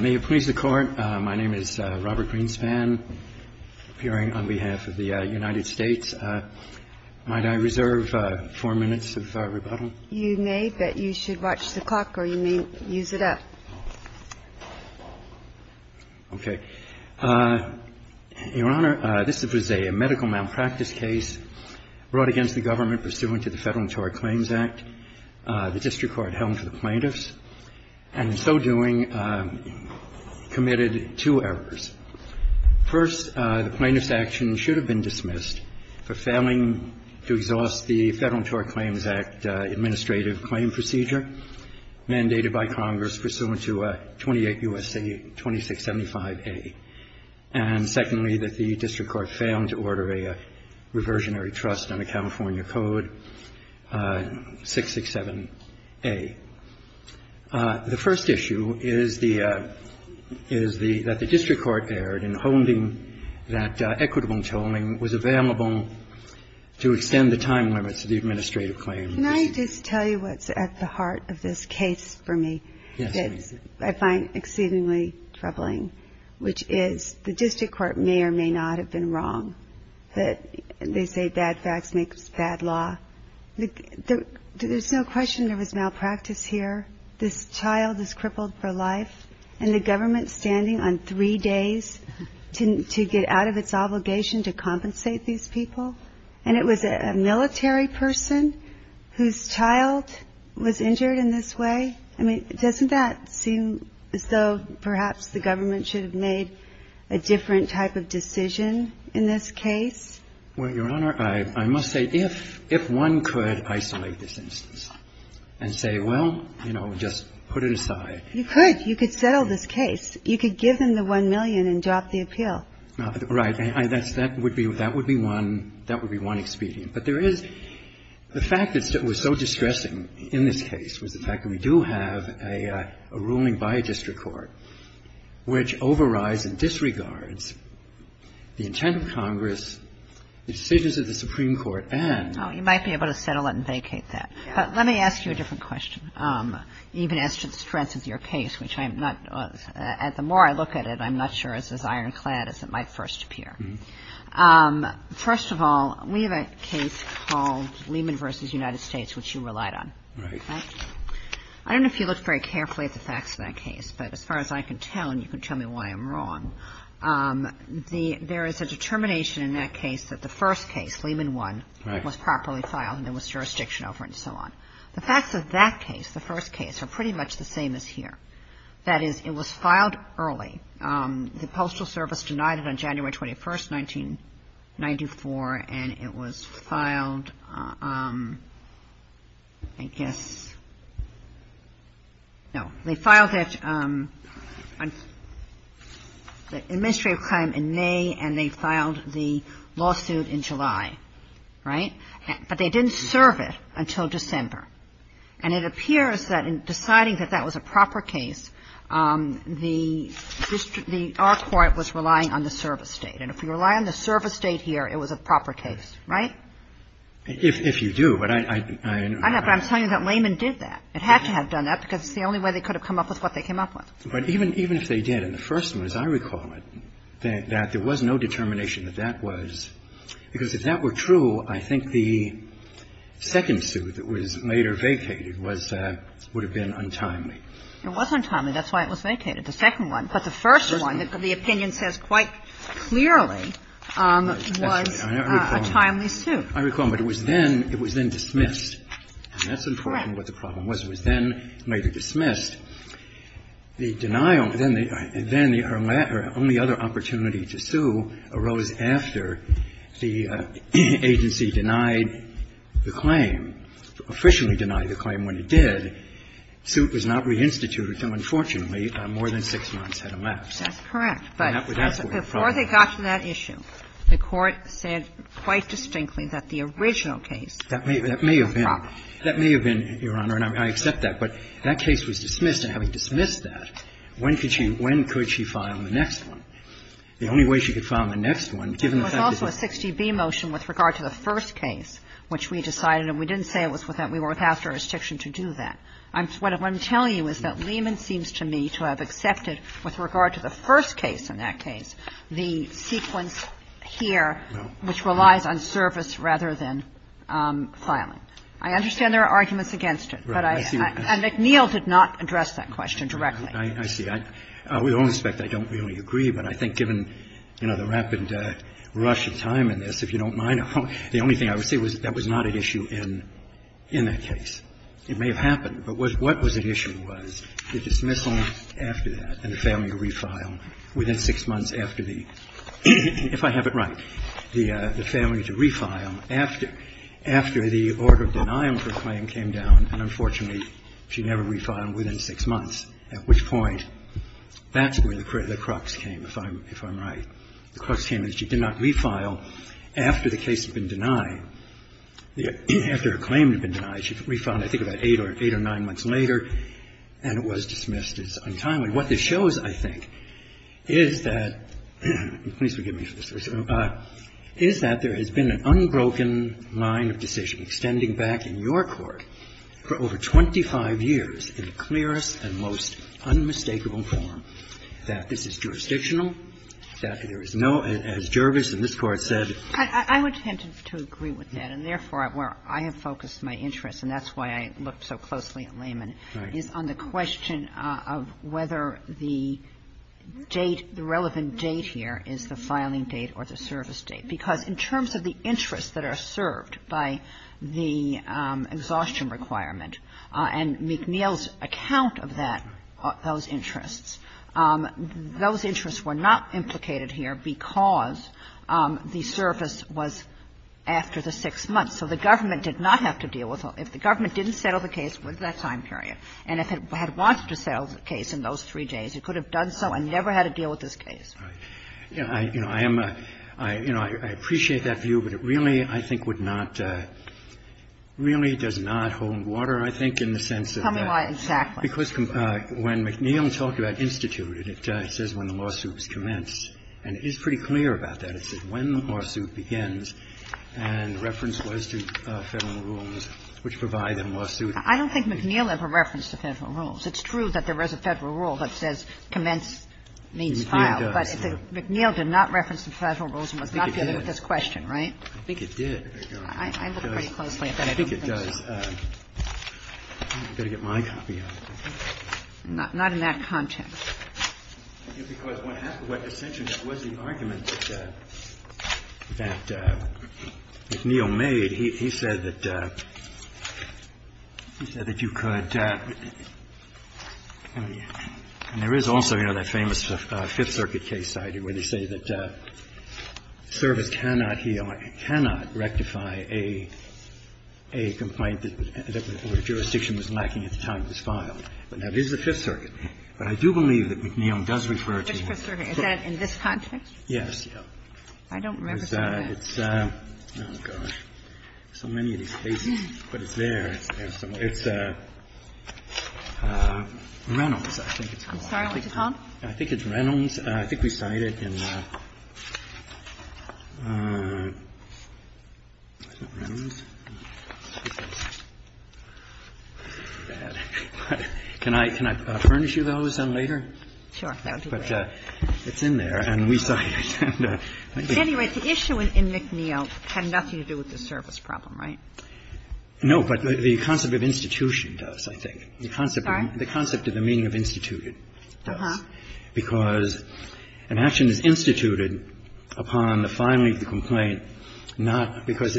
May it please the Court, my name is Robert Greenspan, appearing on behalf of the United States. Might I reserve four minutes of rebuttal? You may, but you should watch the clock or you may use it up. Okay. Your Honor, this was a medical malpractice case brought against the government pursuant to the Federal Interior Claims Act, the district court held for the plaintiffs, and in so doing committed two errors. First, the plaintiff's action should have been dismissed for failing to exhaust the Federal Interior Claims Act administrative claim procedure mandated by Congress pursuant to 28 U.S.C. 2675A, and secondly, that the district court failed to order a reversionary trust under California Code 667A. The first issue is the – is the – that the district court erred in holding that equitable tolling was available to extend the time limits of the administrative claim. Can I just tell you what's at the heart of this case for me? Yes, please. I find exceedingly troubling, which is the district court may or may not have been wrong that they say bad facts makes bad law. There's no question there was malpractice here. This child is crippled for life, and the government's standing on three days to get out of its obligation to compensate these people, and it was a military person whose child was injured in this way. I mean, doesn't that seem as though perhaps the government should have made a different type of decision in this case? Well, Your Honor, I must say if one could isolate this instance and say, well, you know, just put it aside. You could. You could settle this case. You could give them the 1 million and drop the appeal. Right. That would be one – that would be one expedient. But there is – the fact that it was so distressing in this case was the fact that we do have a ruling by a district court, which overrides and disregards the intent of Congress, the decisions of the Supreme Court, and – Oh, you might be able to settle it and vacate that. But let me ask you a different question, even as to the strength of your case, which I'm not – the more I look at it, I'm not sure it's as ironclad as it might first appear. First of all, we have a case called Lehman v. United States, which you relied on. Right. I don't know if you looked very carefully at the facts of that case, but as far as I can tell, and you can tell me why I'm wrong, the – there is a determination in that case that the first case, Lehman 1, was properly filed and there was jurisdiction over it and so on. The facts of that case, the first case, are pretty much the same as here. That is, it was filed early. The Postal Service denied it on January 21st, 1994, and it was filed, I guess – no. They filed it – the administrative claim in May and they filed the lawsuit in July. Right. But they didn't serve it until December. And it appears that in deciding that that was a proper case, the district – our court was relying on the service state. And if you rely on the service state here, it was a proper case. Right? If you do, but I – I know, but I'm telling you that Lehman did that. It had to have done that because it's the only way they could have come up with what they came up with. But even if they did, in the first one, as I recall it, that there was no determination that that was – because if that were true, I think the second suit that was later vacated was – would have been untimely. It was untimely. That's why it was vacated, the second one. But the first one, the opinion says quite clearly, was a timely suit. I recall, but it was then – it was then dismissed. That's important what the problem was. It was then later dismissed. The denial – then the only other opportunity to sue arose after the agency denied the claim, officially denied the claim when it did. The suit was not reinstituted until, unfortunately, more than six months had elapsed. That's correct. But before they got to that issue, the Court said quite distinctly that the original case was a problem. That may have been. That may have been, Your Honor, and I accept that. But that case was dismissed, and having dismissed that, when could she – when could she file the next one? The only way she could file the next one, given the fact that the – There was also a 60B motion with regard to the first case, which we decided – and we didn't say it was without – we were without jurisdiction to do that. What I'm telling you is that Lehman seems to me to have accepted, with regard to the first case in that case, the sequence here, which relies on service rather than filing. I understand there are arguments against it. But I – and McNeil did not address that question directly. I see. With all respect, I don't really agree, but I think given, you know, the rapid rush of time in this, if you don't mind, the only thing I would say was that was not an issue in that case. It may have happened, but what was at issue was the dismissal after that and the failure to refile within six months after the – if I have it right, the failure to refile after the order of denial for a claim came down. And unfortunately, she never refiled within six months, at which point that's where the crux came, if I'm right. The crux came is she did not refile after the case had been denied. After her claim had been denied, she refiled, I think, about eight or nine months later, and it was dismissed as untimely. What this shows, I think, is that – please forgive me for this. Is that there has been an unbroken line of decision extending back in your court for over 25 years in the clearest and most unmistakable form that this is jurisdictional, that there is no – as Jervis in this Court said – I would tend to agree with that. And therefore, where I have focused my interest, and that's why I looked so closely at Lehman, is on the question of whether the date – the relevant date here is the filing date or the service date. Because in terms of the interests that are served by the exhaustion requirement and McNeil's account of that – those interests, those interests were not implicated here because the service was after the six months. So the government did not have to deal with – if the government didn't settle the case in that time period, and if it had wanted to settle the case in those three days, it could have done so and never had to deal with this case. Roberts. You know, I am a – you know, I appreciate that view, but it really, I think, would not – really does not hold water, I think, in the sense of that. Tell me why exactly. Because when McNeil talked about instituted, it says when the lawsuits commence. And it is pretty clear about that. I don't think McNeil ever referenced the Federal rules. It's true that there is a Federal rule that says commence means file. McNeil does. But McNeil did not reference the Federal rules and was not dealing with this question, right? I think it did. There you go. I looked pretty closely at that. I think it does. I've got to get my copy of it. Not in that context. Because what happened – what essentially was the argument that the Federal rules that McNeil made, he said that – he said that you could – and there is also, you know, that famous Fifth Circuit case study where they say that service cannot heal or cannot rectify a complaint that the jurisdiction was lacking at the time it was filed. But now, this is the Fifth Circuit. But I do believe that McNeil does refer to the Fifth Circuit. Is that in this context? Yes. Thank you. I don't remember. Oh, gosh. So many of these cases. But it's there. It's Reynolds, I think. I'm sorry. What did you call it? I think it's Reynolds. I think we cite it in – is it Reynolds? Can I furnish you those later? Sure. That would be great. It's in there. And we cite it. Anyway, the issue in McNeil had nothing to do with the service problem, right? No. But the concept of institution does, I think. Sorry? The concept of the meaning of instituted does. Because an action is instituted upon the filing of the complaint, not because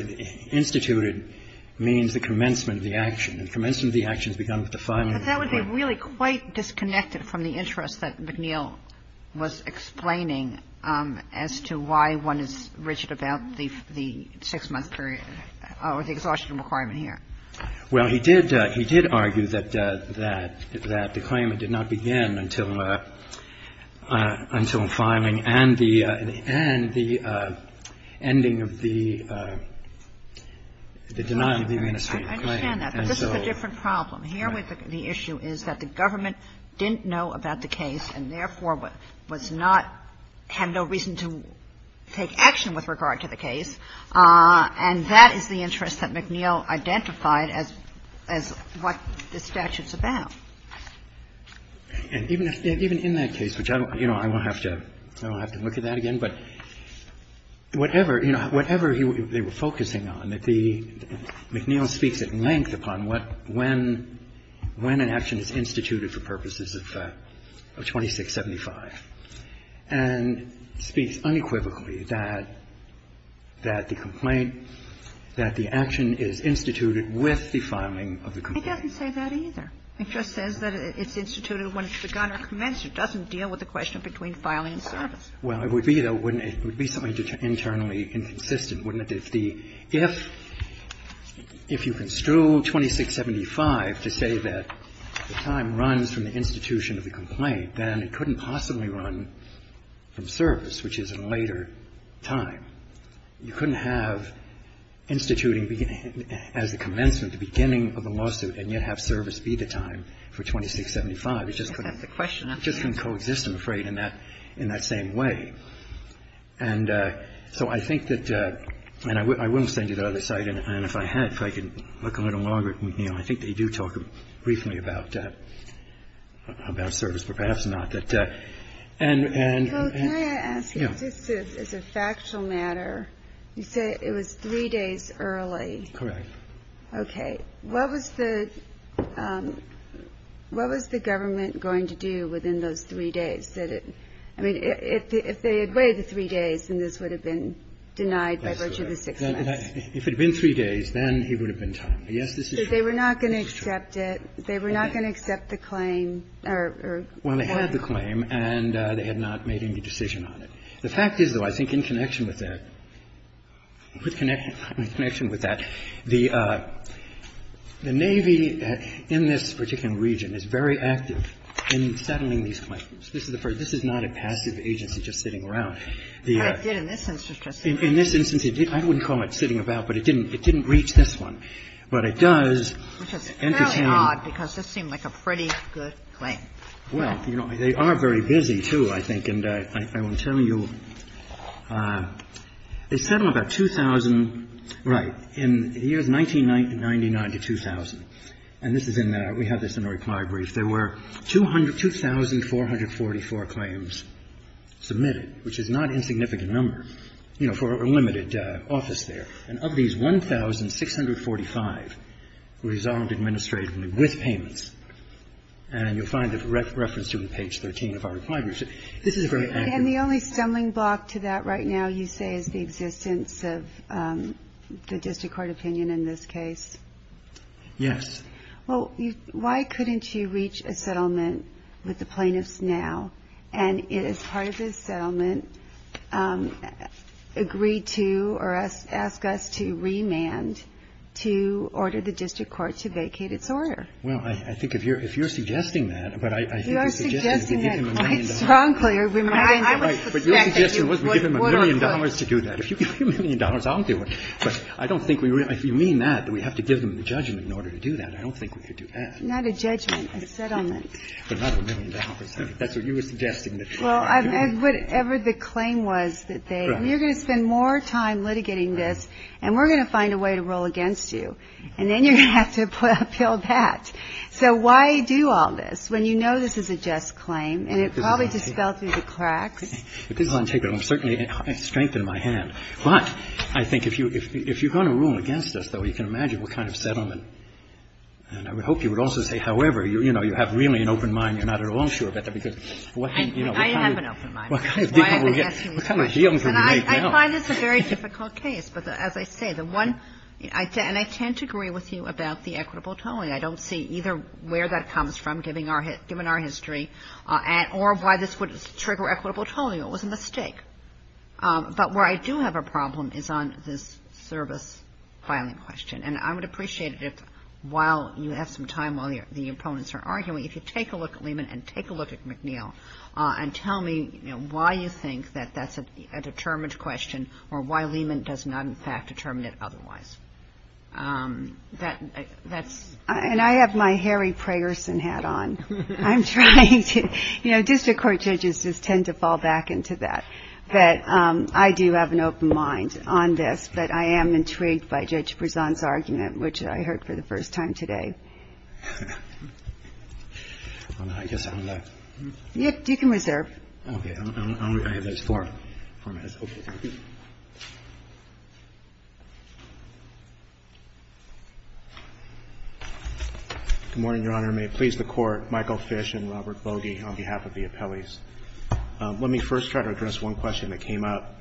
instituted means the commencement of the action. And commencement of the action has begun with the filing of the complaint. But that would be really quite disconnected from the interest that McNeil was explaining as to why one is rigid about the six-month period or the exhaustion requirement here. Well, he did argue that the claimant did not begin until filing and the ending of the denial of the administrative claim. I understand that, but this is a different problem. The problem here with the issue is that the government didn't know about the case and therefore was not – had no reason to take action with regard to the case. And that is the interest that McNeil identified as what the statute's about. And even in that case, which I don't – you know, I won't have to look at that again, but whatever, you know, whatever they were focusing on, that the – McNeil speaks at length upon what – when an action is instituted for purposes of 2675. And speaks unequivocally that the complaint – that the action is instituted with the filing of the complaint. It doesn't say that either. It just says that it's instituted when it's begun or commenced. It doesn't deal with the question between filing and service. Well, it would be, though, wouldn't it? It would be something internally inconsistent, wouldn't it? If the – if you construed 2675 to say that the time runs from the institution of the complaint, then it couldn't possibly run from service, which is a later time. You couldn't have instituting as the commencement, the beginning of the lawsuit and yet have service be the time for 2675. It just couldn't. That's the question. It just couldn't coexist, I'm afraid, in that same way. And so I think that – and I will send you the other site. And if I had, if I could look a little longer at McNeil, I think they do talk briefly about service, but perhaps not. And – Well, can I ask you, just as a factual matter, you say it was three days early. Correct. Okay. What was the – what was the government going to do within those three days? I mean, if they had waited three days, then this would have been denied by virtue of the six months. If it had been three days, then it would have been time. Yes, this is true. So they were not going to accept it? They were not going to accept the claim? Well, they had the claim, and they had not made any decision on it. The fact is, though, I think in connection with that – in connection with that, the Navy in this particular region is very active in settling these claims. This is the first – this is not a passive agency just sitting around. But it did in this instance, Justice Kennedy. In this instance, it did. I wouldn't call it sitting about, but it didn't reach this one. But it does entertain – Which is fairly odd, because this seemed like a pretty good claim. Well, you know, they are very busy, too, I think. And I will tell you, they settled about 2,000 – right, in the years 1999 to 2000. And this is in the – we have this in the reply brief. There were 200 – 2,444 claims submitted, which is not an insignificant number, you know, for a limited office there. And of these, 1,645 resolved administratively with payments. And you'll find a reference to it on page 13 of our reply brief. This is a very accurate – And the only stumbling block to that right now, you say, is the existence of the district court opinion in this case? Yes. Well, why couldn't you reach a settlement with the plaintiffs now and, as part of this settlement, agree to or ask us to remand to order the district court to vacate its order? Well, I think if you're suggesting that – You are suggesting that quite strongly. But your suggestion was we give them a million dollars to do that. If you give me a million dollars, I'll do it. But I don't think we – if you mean that, we have to give them the judgment in order to do that. I don't think we could do that. Not a judgment. A settlement. But not a million dollars. That's what you were suggesting. Well, whatever the claim was that they – Right. You're going to spend more time litigating this, and we're going to find a way to rule against you. And then you're going to have to appeal that. So why do all this when you know this is a just claim, and it probably just fell through the cracks? This is untakeable. I'm certainly – I strengthened my hand. But I think if you're going to rule against us, though, you can imagine what kind of settlement. And I would hope you would also say, however. You know, you have really an open mind. You're not at all sure about that. Because what can – I have an open mind. Why am I asking you this question? And I find this a very difficult case. But as I say, the one – and I tend to agree with you about the equitable tolling. I don't see either where that comes from, given our history, or why this would trigger equitable tolling. It was a mistake. But where I do have a problem is on this service filing question. And I would appreciate it if, while you have some time while the opponents are arguing, if you take a look at Lehman and take a look at McNeil and tell me why you think that that's a determined question or why Lehman does not, in fact, determine it otherwise. That's – And I have my Harry Prayerson hat on. I'm trying to – you know, district court judges just tend to fall back into that. But I do have an open mind on this. But I am intrigued by Judge Prezant's argument, which I heard for the first time today. I guess I'm left. You can reserve. Okay. I have four minutes. Good morning, Your Honor. May it please the Court. Michael Fish and Robert Bogie on behalf of the appellees. Let me first try to address one question that came up.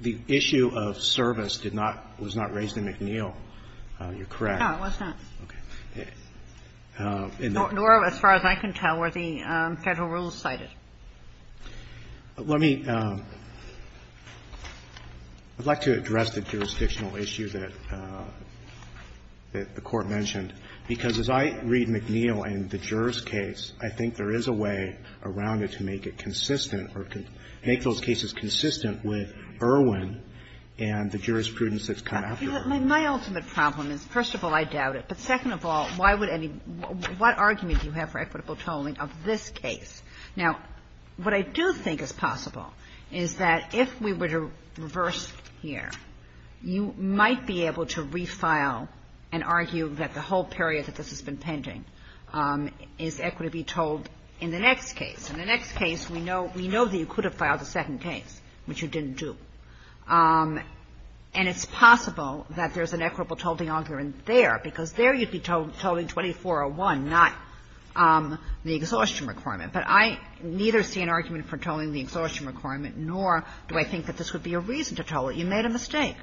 The issue of service did not – was not raised in McNeil. You're correct. No, it was not. Okay. Nor, as far as I can tell, were the Federal rules cited. Let me – I'd like to address the jurisdictional issue that the Court mentioned. Because as I read McNeil and the juror's case, I think there is a way around it to make it consistent or make those cases consistent with Irwin and the jurisprudence that's come after Irwin. My ultimate problem is, first of all, I doubt it. But second of all, why would any – what argument do you have for equitable tolling of this case? Now, what I do think is possible is that if we were to reverse here, you might be able to refile and argue that the whole period that this has been pending is equity to be told in the next case. In the next case, we know – we know that you could have filed a second case, which you didn't do. And it's possible that there's an equitable tolling argument there, because there you'd be tolling 2401, not the exhaustion requirement. But I neither see an argument for tolling the exhaustion requirement, nor do I think that this would be a reason to toll it. You made a mistake.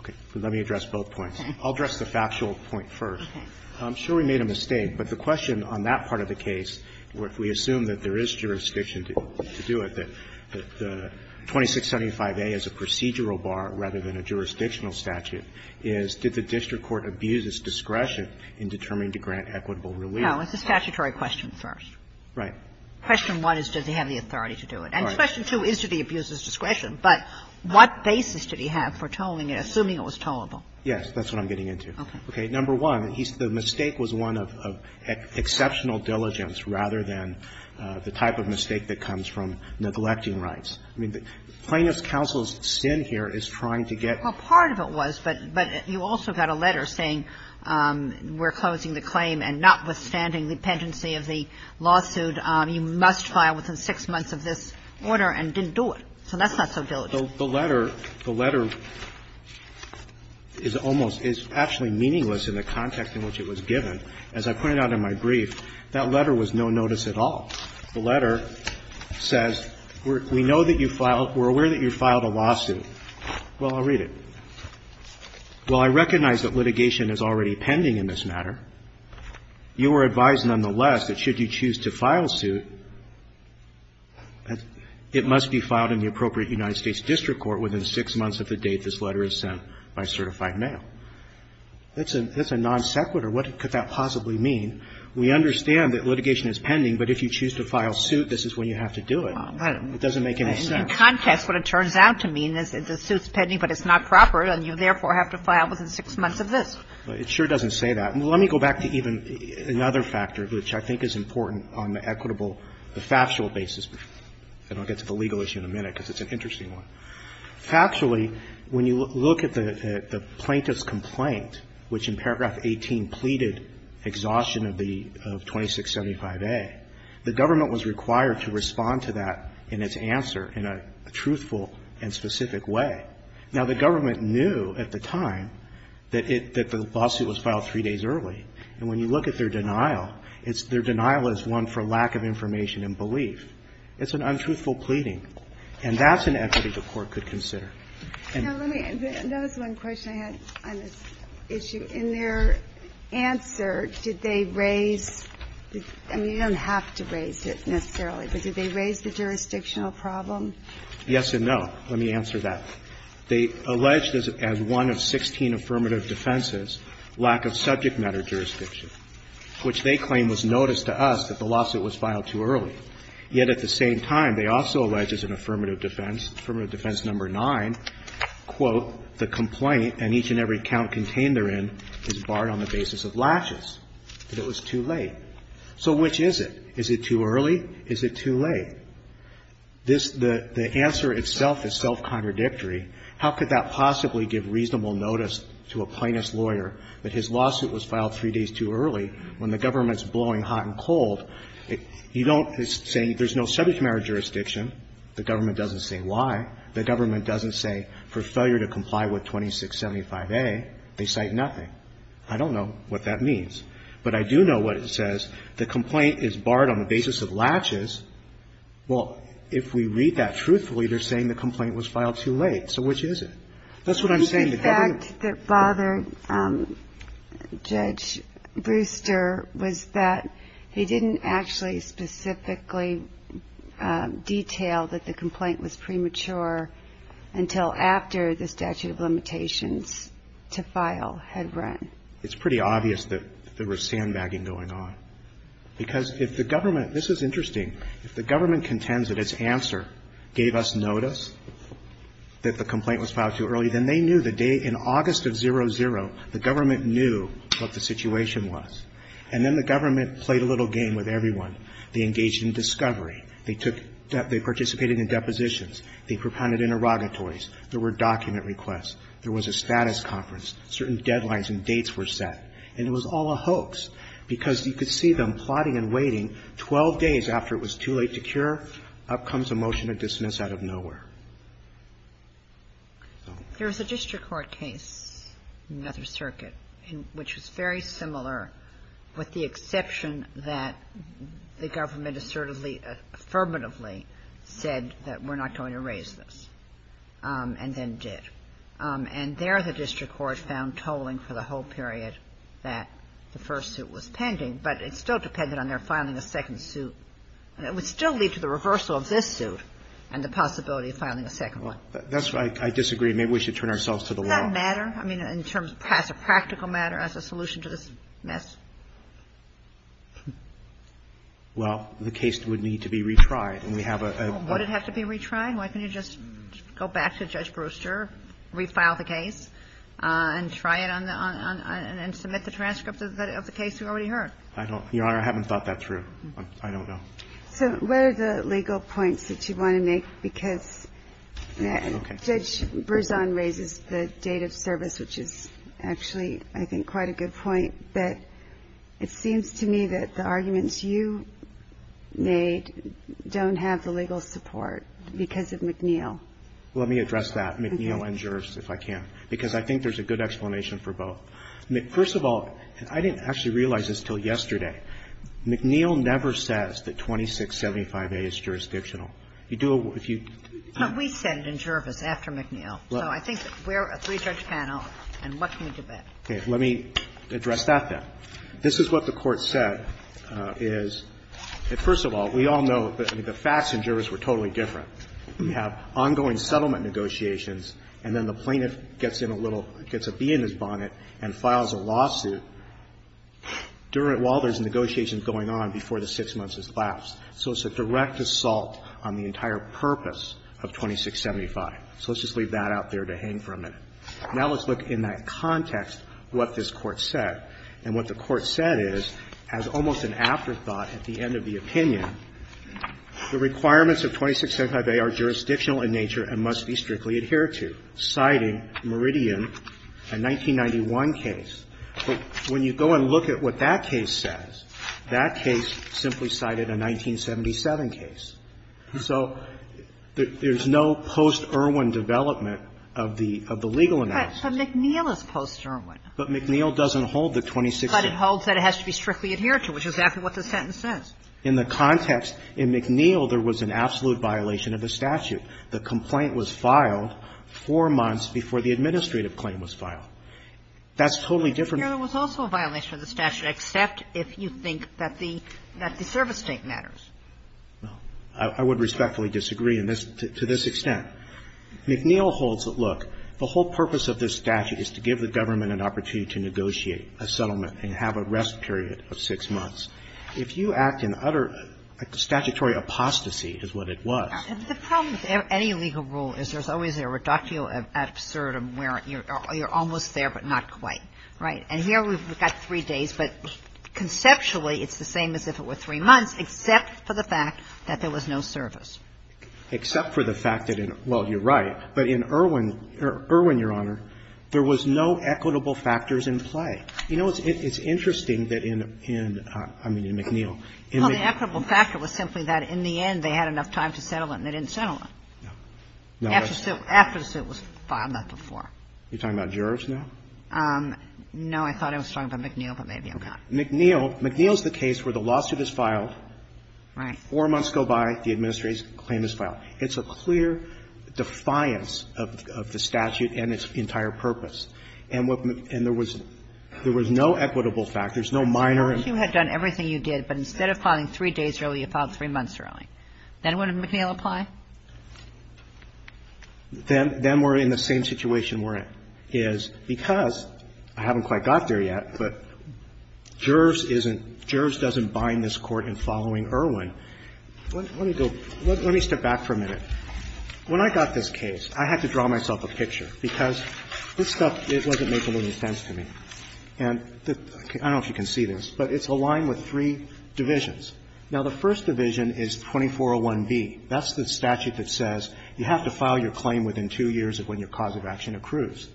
Okay. Let me address both points. Okay. I'll address the factual point first. Okay. I'm sure we made a mistake. But the question on that part of the case, if we assume that there is jurisdiction to do it, that the 2675A is a procedural bar rather than a jurisdictional statute, is did the district court abuse its discretion in determining to grant equitable relief? No. It's a statutory question first. Right. Question one is, does he have the authority to do it? And question two is, did he abuse his discretion? But what basis did he have for tolling it, assuming it was tollable? Yes, that's what I'm getting into. Okay. Number one, the mistake was one of exceptional diligence rather than the type of mistake that comes from neglecting rights. I mean, Plaintiff's counsel's sin here is trying to get to the point. Well, part of it was, but you also got a letter saying we're closing the claim and notwithstanding the pendency of the lawsuit, you must file within six months of this order, and didn't do it. So that's not so diligent. Well, the letter, the letter is almost, is actually meaningless in the context in which it was given. As I pointed out in my brief, that letter was no notice at all. The letter says, we know that you filed, we're aware that you filed a lawsuit. Well, I'll read it. Well, I recognize that litigation is already pending in this matter. You are advised, nonetheless, that should you choose to file suit, it must be filed in the appropriate United States district court within six months of the date this letter is sent by certified mail. That's a non sequitur. What could that possibly mean? We understand that litigation is pending, but if you choose to file suit, this is when you have to do it. It doesn't make any sense. In context, what it turns out to mean is the suit's pending, but it's not proper, and you, therefore, have to file within six months of this. It sure doesn't say that. Let me go back to even another factor, which I think is important on the equitable factual basis. And I'll get to the legal issue in a minute, because it's an interesting one. Factually, when you look at the plaintiff's complaint, which in paragraph 18 pleaded exhaustion of the 2675A, the government was required to respond to that in its answer in a truthful and specific way. Now, the government knew at the time that the lawsuit was filed three days early. And when you look at their denial, their denial is one for lack of information and belief. It's an untruthful pleading. And that's an equity the Court could consider. And the court could consider. Now, let me, that was one question I had on this issue. In their answer, did they raise, I mean, you don't have to raise it necessarily, but did they raise the jurisdictional problem? Yes and no. Let me answer that. They alleged as one of 16 affirmative defenses, lack of subject matter jurisdiction, which they claim was noticed to us that the lawsuit was filed too early. Yet at the same time, they also allege as an affirmative defense, affirmative defense number nine, quote, the complaint and each and every count contained therein is barred on the basis of laches, that it was too late. So which is it? Is it too early? Is it too late? This, the answer itself is self-contradictory. How could that possibly give reasonable notice to a plaintiff's lawyer that his lawsuit was filed three days too early when the government's blowing hot and cold? You don't say there's no subject matter jurisdiction. The government doesn't say why. The government doesn't say for failure to comply with 2675A. They cite nothing. I don't know what that means. But I do know what it says. The complaint is barred on the basis of laches. Well, if we read that truthfully, they're saying the complaint was filed too late. So which is it? That's what I'm saying. The fact that bothered Judge Brewster was that he didn't actually specifically detail that the complaint was premature until after the statute of limitations to file had run. It's pretty obvious that there was sandbagging going on. Because if the government, this is interesting, if the government contends that its answer gave us notice that the complaint was filed too early, then they knew the day in August of 00, the government knew what the situation was. And then the government played a little game with everyone. They engaged in discovery. They took, they participated in depositions. They propounded interrogatories. There were document requests. There was a status conference. Certain deadlines and dates were set. And it was all a hoax. Because you could see them plotting and waiting. Twelve days after it was too late to cure, up comes a motion to dismiss out of nowhere. So. There was a district court case in the Nether Circuit which was very similar, with the exception that the government assertively, affirmatively said that we're not going to raise this, and then did. And there the district court found tolling for the whole period that the first suit was pending. But it still depended on their filing a second suit. And it would still lead to the reversal of this suit and the possibility of filing a second one. Roberts. That's right. I disagree. Maybe we should turn ourselves to the law. Doesn't that matter? I mean, in terms, as a practical matter, as a solution to this mess? Well, the case would need to be retried. And we have a. Would it have to be retried? Why can't you just go back to Judge Brewster, refile the case, and try it on the, and submit the transcript of the case we already heard? I don't, Your Honor, I haven't thought that through. I don't know. So what are the legal points that you want to make? Because Judge Berzon raises the date of service, which is actually, I think, quite a good point. But it seems to me that the arguments you made don't have the legal support. Because of McNeil. Let me address that, McNeil and Jervis, if I can, because I think there's a good explanation for both. First of all, I didn't actually realize this until yesterday. McNeil never says that 2675A is jurisdictional. You do if you. But we said in Jervis after McNeil. So I think we're a three-judge panel, and what can we do better? Okay. Let me address that, then. This is what the Court said, is that, first of all, we all know that the facts in Jervis were totally different. We have ongoing settlement negotiations, and then the plaintiff gets in a little – gets a bee in his bonnet and files a lawsuit during – while there's negotiations going on before the six months has lapsed. So it's a direct assault on the entire purpose of 2675. So let's just leave that out there to hang for a minute. Now let's look in that context what this Court said. And what the Court said is, as almost an afterthought at the end of the opinion, the requirements of 2675A are jurisdictional in nature and must be strictly adhered to, citing Meridian, a 1991 case. But when you go and look at what that case says, that case simply cited a 1977 case. So there's no post-Irwin development of the legal analysis. But McNeil is post-Irwin. But McNeil doesn't hold that 2675A. But it holds that it has to be strictly adhered to, which is exactly what the sentence says. In the context, in McNeil, there was an absolute violation of the statute. The complaint was filed four months before the administrative claim was filed. That's totally different. Kagan. There was also a violation of the statute, except if you think that the – that the service date matters. Well, I would respectfully disagree in this – to this extent. McNeil holds that, look, the whole purpose of this statute is to give the government an opportunity to negotiate a settlement and have a rest period of six months. If you act in utter statutory apostasy, is what it was. And the problem with any legal rule is there's always a reductio ad absurdum where you're almost there, but not quite. Right. And here we've got three days, but conceptually, it's the same as if it were three months, except for the fact that there was no service. Except for the fact that in – well, you're right. But in Irwin – Irwin, Your Honor, there was no equitable factors in play. You know, it's interesting that in – I mean, in McNeil. Well, the equitable factor was simply that in the end, they had enough time to settle it, and they didn't settle it. No. After the suit was filed, not before. You're talking about jurors now? No. I thought I was talking about McNeil, but maybe I'm not. McNeil – McNeil is the case where the lawsuit is filed. Right. Four months go by, the administration's claim is filed. It's a clear defiance of the statute and its entire purpose. And what – and there was – there was no equitable factors, no minor. You had done everything you did, but instead of filing three days early, you filed three months early. Then wouldn't McNeil apply? Then – then we're in the same situation we're in, is because – I haven't quite got there yet, but jurors isn't – jurors doesn't bind this Court in following Irwin. Let me go – let me step back for a minute. When I got this case, I had to draw myself a picture, because this stuff, it wasn't making any sense to me. And the – I don't know if you can see this, but it's aligned with three divisions. Now, the first division is 2401B. That's the statute that says you have to file your claim within two years of when your cause of action accrues.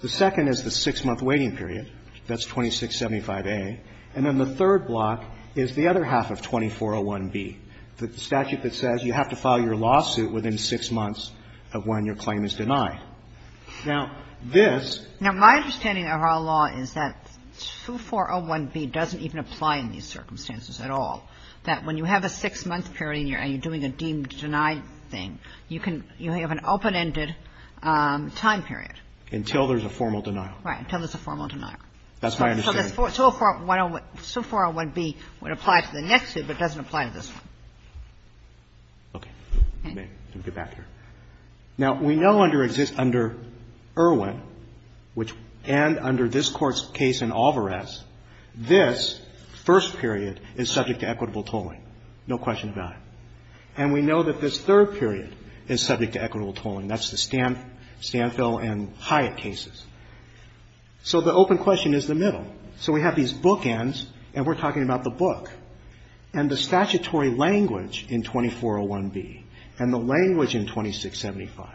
The second is the six-month waiting period. That's 2675A. And then the third block is the other half of 2401B, the statute that says you have to file your lawsuit within six months of when your claim is denied. Now, this – Now, my understanding of our law is that 2401B doesn't even apply in these circumstances at all, that when you have a six-month period and you're doing a deemed-denied thing, you can – you have an open-ended time period. Until there's a formal denial. Right. Until there's a formal denial. That's my understanding. So the 2401B would apply to the next suit, but doesn't apply to this one. Okay. Let me get back here. Now, we know under Irwin, which – and under this Court's case in Alvarez, this first period is subject to equitable tolling. No question about it. And we know that this third period is subject to equitable tolling. That's the Stanfill and Hyatt cases. So the open question is the middle. So we have these bookends, and we're talking about the book. And the statutory language in 2401B and the language in 2675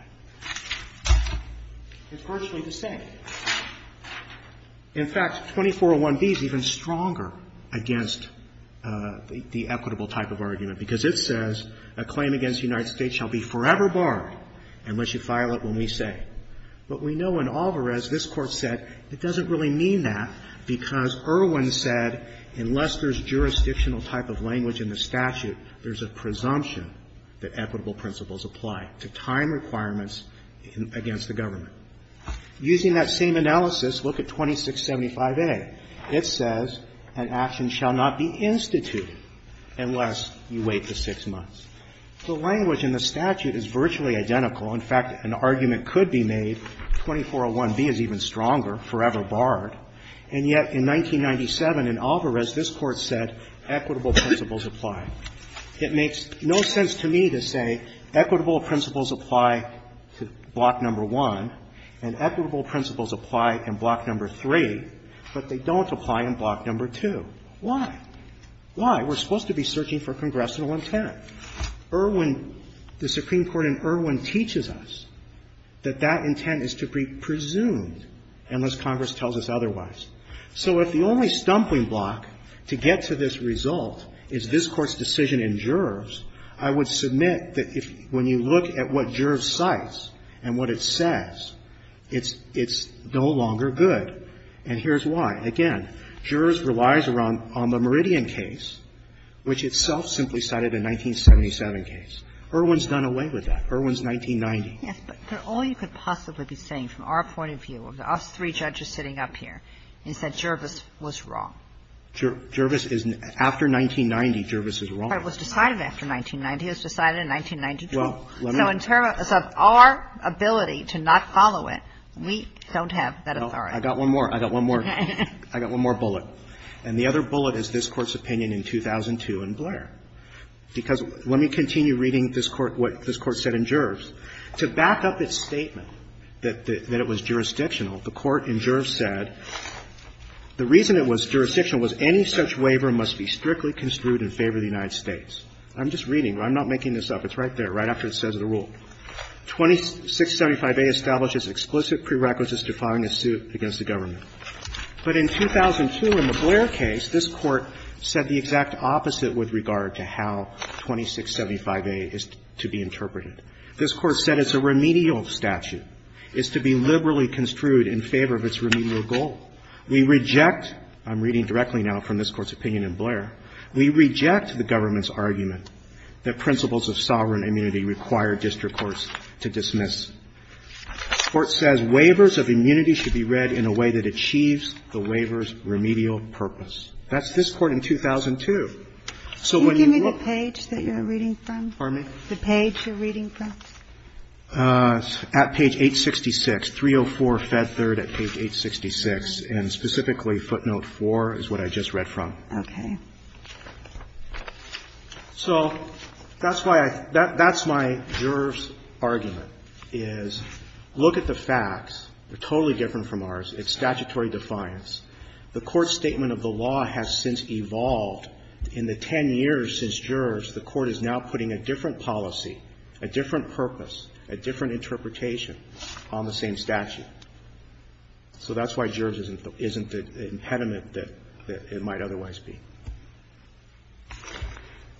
is virtually the same. In fact, 2401B is even stronger against the equitable type of argument, because it says, a claim against the United States shall be forever barred unless you file it when we say. But we know in Alvarez, this Court said, it doesn't really mean that, because Irwin said, unless there's jurisdictional type of language in the statute, there's a presumption that equitable principles apply to time requirements against the government. Using that same analysis, look at 2675A. It says, an action shall not be instituted unless you wait the six months. The language in the statute is virtually identical. In fact, an argument could be made, 2401B is even stronger, forever barred. And yet, in 1997, in Alvarez, this Court said, equitable principles apply. It makes no sense to me to say equitable principles apply to Block No. 1, and equitable principles apply in Block No. 3, but they don't apply in Block No. 2. Why? Why? We're supposed to be searching for congressional intent. Irwin, the Supreme Court in Irwin teaches us that that intent is to be presumed unless Congress tells us otherwise. So if the only stumpling block to get to this result is this Court's decision in Juroves, I would submit that if, when you look at what Juroves cites and what it says, it's no longer good. And here's why. Again, Juroves relies on the Meridian case, which itself simply cited a 1977 case. Irwin's done away with that. Irwin's 1990. Yes, but all you could possibly be saying from our point of view, of us three judges sitting up here, is that Juroves was wrong. Juroves is, after 1990, Juroves is wrong. It was decided after 1990. It was decided in 1992. So in terms of our ability to not follow it, we don't have that authority. I got one more. I got one more. I got one more bullet. And the other bullet is this Court's opinion in 2002 in Blair. Because let me continue reading this Court, what this Court said in Juroves. To back up its statement that it was jurisdictional, the Court in Juroves said the reason it was jurisdictional was any such waiver must be strictly construed in favor of the United States. I'm just reading. I'm not making this up. It's right there, right after it says the rule. 2675A establishes explicit prerequisites to filing a suit against the government. But in 2002, in the Blair case, this Court said the exact opposite with regard to how 2675A is to be interpreted. This Court said it's a remedial statute. It's to be liberally construed in favor of its remedial goal. We reject, I'm reading directly now from this Court's opinion in Blair, we reject the government's argument that principles of sovereign immunity require district courts to dismiss. This Court says waivers of immunity should be read in a way that achieves the waiver's remedial purpose. That's this Court in 2002. So when you look at the page that you're reading from, the page you're reading from. At page 866, 304 Fed Third at page 866, and specifically footnote 4 is what I just read from. Okay. So that's why I, that's my Juroves argument. Is look at the facts. They're totally different from ours. It's statutory defiance. The Court's statement of the law has since evolved. In the 10 years since Juroves, the Court is now putting a different policy, a different purpose, a different interpretation on the same statute. So that's why Juroves isn't the impediment that it might otherwise be.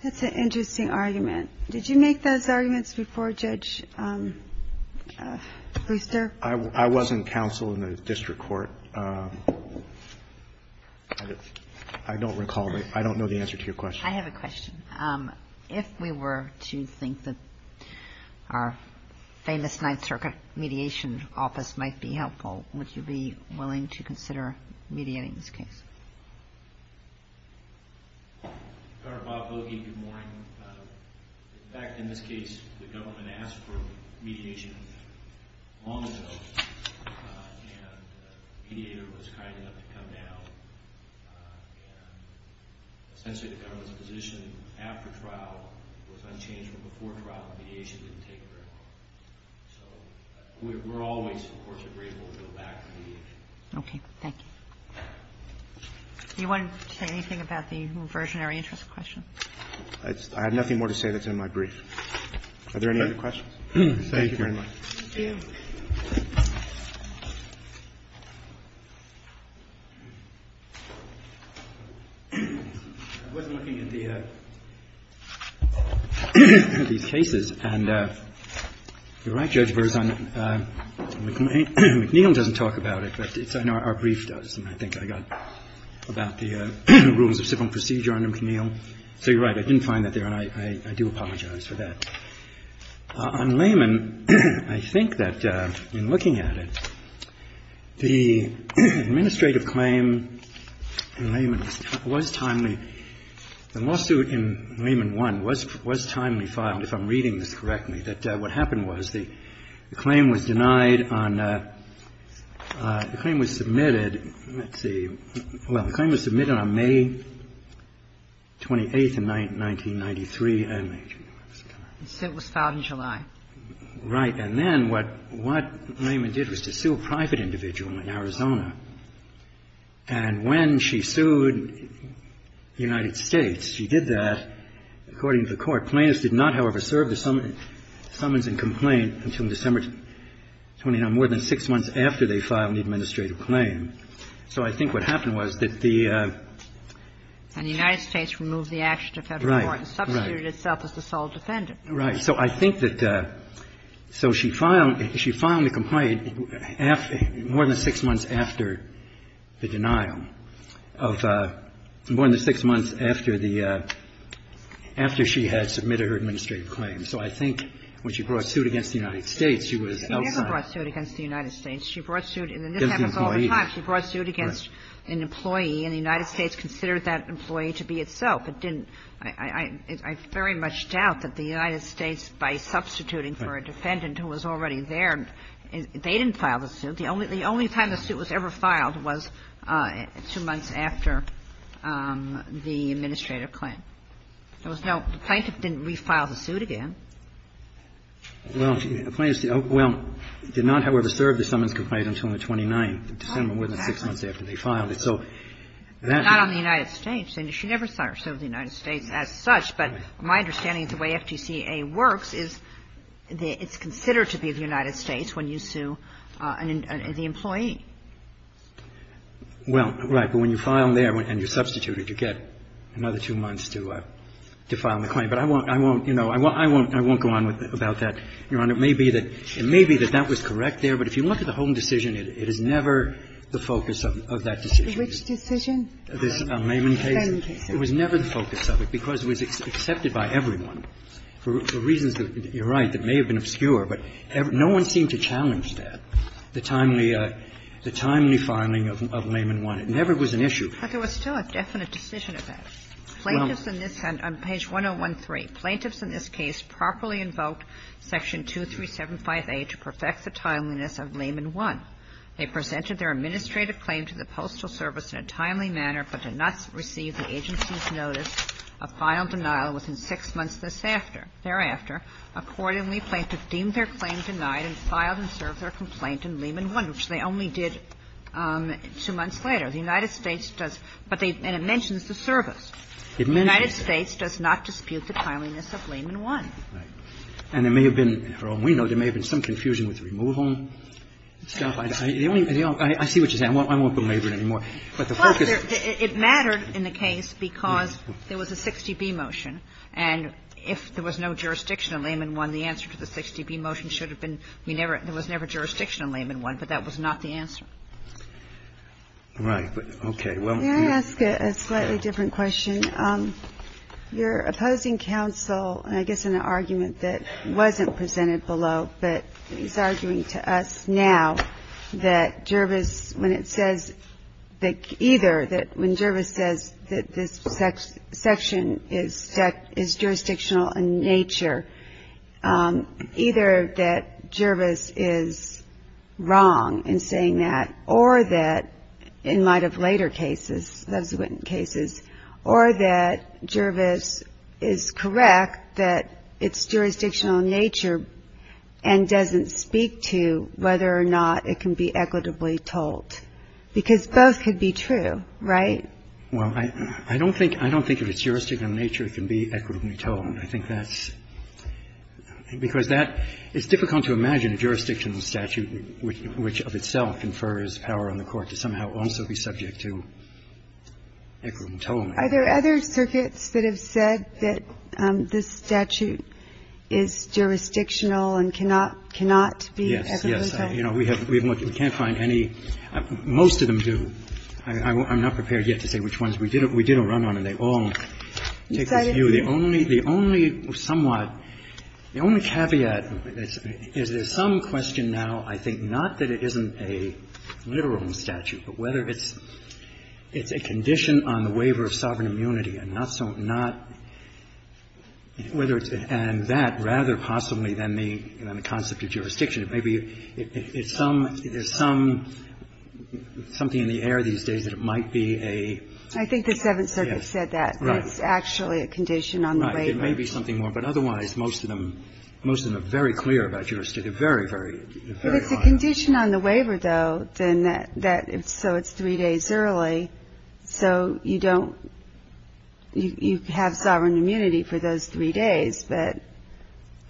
That's an interesting argument. Did you make those arguments before, Judge Brewster? I wasn't counsel in the district court. I don't recall. I don't know the answer to your question. I have a question. If we were to think that our famous Ninth Circuit mediation office might be helpful, would you be willing to consider mediating this case? Governor Bob Boagie, good morning. In fact, in this case, the government asked for mediation long ago, and a mediator was kind enough to come down, and essentially the government's position after trial was unchanged from before trial, and the mediation didn't take very long. So we're always, of course, grateful to go back to mediation. Okay. Thank you. Do you want to say anything about the reversionary interest question? I have nothing more to say that's in my brief. Are there any other questions? Thank you very much. Thank you. I wasn't looking at these cases, and you're right, Judge Brewster. I think I got about the rules of civil procedure under McNeil. So you're right. I didn't find that there, and I do apologize for that. On Layman, I think that in looking at it, the administrative claim in Layman was timely. The lawsuit in Layman 1 was timely filed, if I'm reading this correctly, that what happened was the claim was denied on the claim was submitted. Let's see. Well, the claim was submitted on May 28th in 1993. It was filed in July. Right. And then what Layman did was to sue a private individual in Arizona. And when she sued the United States, she did that, according to the Court. The plaintiff did not, however, serve the summons and complaint until December 29th, more than six months after they filed the administrative claim. So I think what happened was that the ---- And the United States removed the action to Federal court and substituted itself as the sole defendant. Right. So I think that the ---- so she filed the complaint more than six months after the administrative claim. So I think when she brought suit against the United States, she was outside. She never brought suit against the United States. She brought suit, and this happens all the time. She brought suit against an employee, and the United States considered that employee to be itself. It didn't ---- I very much doubt that the United States, by substituting for a defendant who was already there, they didn't file the suit. The only time the suit was ever filed was two months after the administrative claim. There was no ---- the plaintiff didn't refile the suit again. Well, the plaintiff ---- well, did not, however, serve the summons and complaint until the 29th, December, more than six months after they filed it. So that ---- Not on the United States. And she never served the United States as such. But my understanding of the way FTCA works is that it's considered to be the United States when you sue the employee. Well, right. But when you file there and you're substituted, you get another two months to file the claim. But I won't, you know, I won't go on about that, Your Honor. It may be that that was correct there, but if you look at the Holman decision, it is never the focus of that decision. Which decision? The Layman case. The Layman case. It was never the focus of it because it was accepted by everyone for reasons that you're right, that may have been obscure, but no one seemed to challenge that, the timely filing of Layman 1. It never was an issue. But there was still a definite decision at that. Plaintiffs in this ---- on page 1013, plaintiffs in this case properly invoked section 2375A to perfect the timeliness of Layman 1. They presented their administrative claim to the Postal Service in a timely manner but did not receive the agency's notice of final denial within six months this after. Thereafter, accordingly, plaintiffs deemed their claim denied and filed and served their complaint in Layman 1, which they only did two months later. The United States does ---- but they ---- and it mentions the service. It mentions it. The United States does not dispute the timeliness of Layman 1. Right. And there may have been, from what we know, there may have been some confusion with the removal stuff. The only ---- I see what you're saying. I won't belabor it anymore. But the focus ---- Well, it mattered in the case because there was a 60B motion, and if there was no jurisdiction in Layman 1, the answer to the 60B motion should have been we never ---- there was never jurisdiction in Layman 1, but that was not the answer. Right. Okay. May I ask a slightly different question? You're opposing counsel, I guess, in an argument that wasn't presented below, but he's arguing to us now that Jervis, when it says that either that when Jervis says that this section is jurisdictional in nature, either that Jervis is wrong in saying that, or that in light of later cases, those cases, or that Jervis is correct that it's jurisdictional in nature and doesn't speak to whether or not it can be equitably told, because both could be true, right? Well, I don't think ---- I don't think if it's jurisdictional in nature, it can be equitably told. I think that's ---- because that ---- it's difficult to imagine a jurisdictional statute which of itself confers power on the Court to somehow also be subject to equitably told. Are there other circuits that have said that this statute is jurisdictional and cannot be equitably told? Yes. Yes. You know, we have ---- we can't find any. Most of them do. I'm not prepared yet to say which ones. We did a run-on, and they all take this view. The only somewhat ---- the only caveat is there's some question now, I think, not that it isn't a literal statute, but whether it's a condition on the waiver of sovereign immunity, and not so ---- not whether it's ---- and that rather possibly than the concept of jurisdiction. Maybe it's some ---- there's some ---- something in the air these days that it might be a ---- I think the Seventh Circuit said that. Right. It's actually a condition on the waiver. Right. It may be something more. But otherwise, most of them ---- most of them are very clear about jurisdiction. They're very, very ---- If it's a condition on the waiver, though, then that ---- so it's three days early, so you don't ---- you have sovereign immunity for those three days, but ----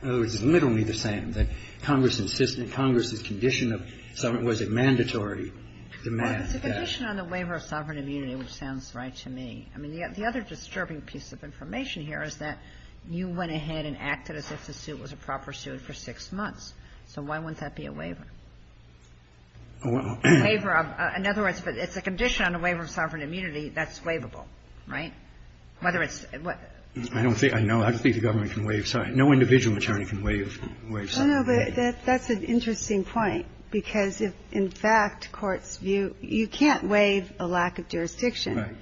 In other words, it's literally the same. That Congress insisted ---- Congress's condition of sovereign ---- was it mandatory to demand that ---- Well, it's a condition on the waiver of sovereign immunity, which sounds right to me. I mean, the other disturbing piece of information here is that you went ahead and acted as if the suit was a proper suit for six months. So why wouldn't that be a waiver? A waiver of ---- in other words, if it's a condition on the waiver of sovereign immunity, that's waivable, right? Whether it's ---- I don't think ---- I know. I don't think the government can waive ---- sorry. No individual attorney can waive sovereign immunity. No, but that's an interesting point, because if, in fact, courts view ---- you can't ---- Right.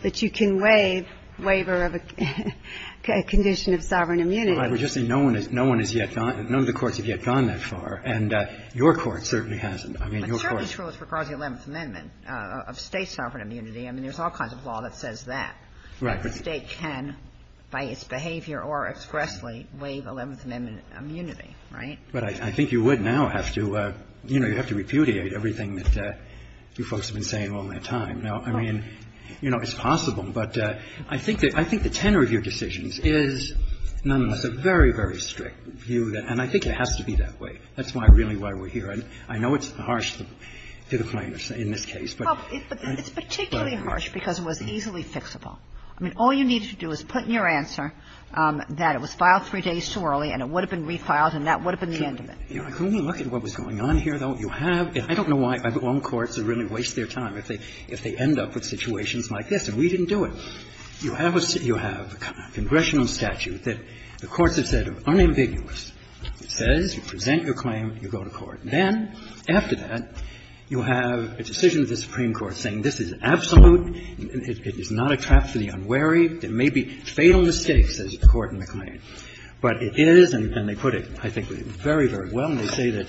But you can waive waiver of a condition of sovereign immunity. Well, I would just say no one has yet gone ---- none of the courts have yet gone that far. And your court certainly hasn't. I mean, your court ---- But certainly true as far as the Eleventh Amendment of State sovereign immunity. I mean, there's all kinds of law that says that. Right. But the State can, by its behavior or expressly, waive Eleventh Amendment immunity, right? But I think you would now have to ---- you know, you'd have to repudiate everything that you folks have been saying all that time. Now, I mean, you know, it's possible. But I think that the tenor of your decisions is, nonetheless, a very, very strict view that ---- and I think it has to be that way. That's why, really, why we're here. And I know it's harsh to the plaintiffs in this case, but ---- Well, it's particularly harsh because it was easily fixable. I mean, all you needed to do was put in your answer that it was filed three days too early, and it would have been refiled, and that would have been the end of it. Can we look at what was going on here, though? You have ---- I don't know why my own courts really waste their time. If they end up with situations like this. And we didn't do it. You have a congressional statute that the courts have said are unambiguous. It says you present your claim, you go to court. Then, after that, you have a decision of the Supreme Court saying this is absolute. It is not a trap for the unwary. There may be fatal mistakes, says the court in the claim. But it is, and they put it, I think, very, very well. They say that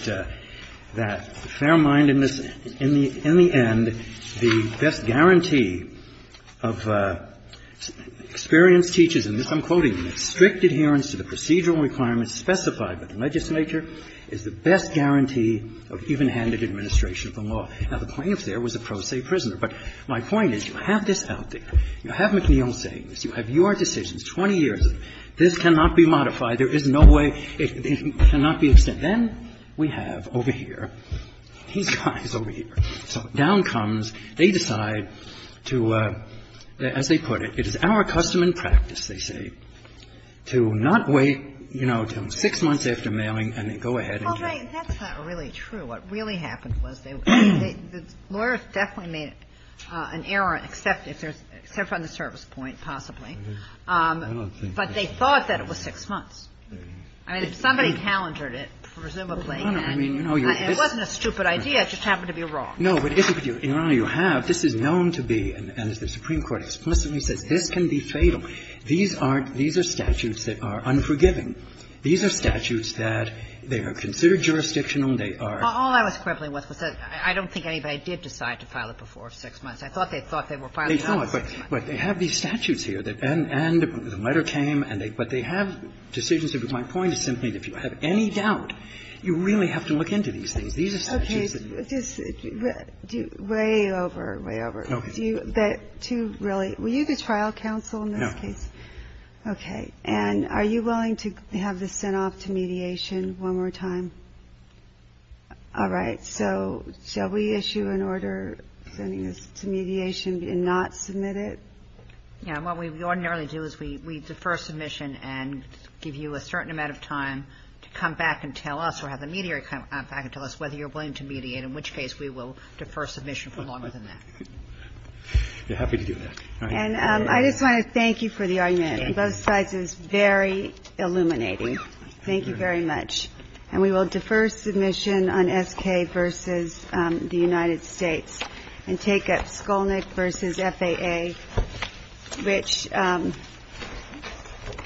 the fair-mindedness, in the end, the best guarantee of experienced teachers, and this I'm quoting, "...strict adherence to the procedural requirements specified by the legislature is the best guarantee of even-handed administration of the law." Now, the plaintiff there was a pro se prisoner. But my point is you have this out there. You have McNeil saying this. You have your decisions, 20 years. This cannot be modified. There is no way. It cannot be extended. Then we have, over here, these guys over here. So down comes, they decide to, as they put it, it is our custom and practice, they say, to not wait, you know, until six months after mailing, and then go ahead and get it. Ginsburg. Well, Ray, that's not really true. What really happened was they were going to get it. The lawyers definitely made an error, except if there's an error on the service point, possibly. But they thought that it was six months. I mean, if somebody calendared it, presumably. And it wasn't a stupid idea. It just happened to be wrong. No, but, Your Honor, you have. This is known to be, and as the Supreme Court explicitly says, this can be fatal. These aren't – these are statutes that are unforgiving. These are statutes that they are considered jurisdictional. They are – All I was quibbling with was that I don't think anybody did decide to file it before six months. I thought they thought they were filing it on six months. They thought, but they have these statutes here that – and the letter came, but they have decisions. My point is simply that if you have any doubt, you really have to look into these things. These are statutes that you have to look into. Okay. Just way over, way over. Okay. Do you really – were you the trial counsel in this case? No. Okay. And are you willing to have this sent off to mediation one more time? All right. So shall we issue an order sending this to mediation and not submit it? Yeah. What we ordinarily do is we defer submission and give you a certain amount of time to come back and tell us or have the mediator come back and tell us whether you're willing to mediate, in which case we will defer submission for longer than that. We're happy to do that. And I just want to thank you for the argument. Both sides, it was very illuminating. Thank you very much. And we will defer submission on SK versus the United States and take up Skolnick versus FAA, which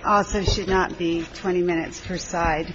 also should not be 20 minutes per side.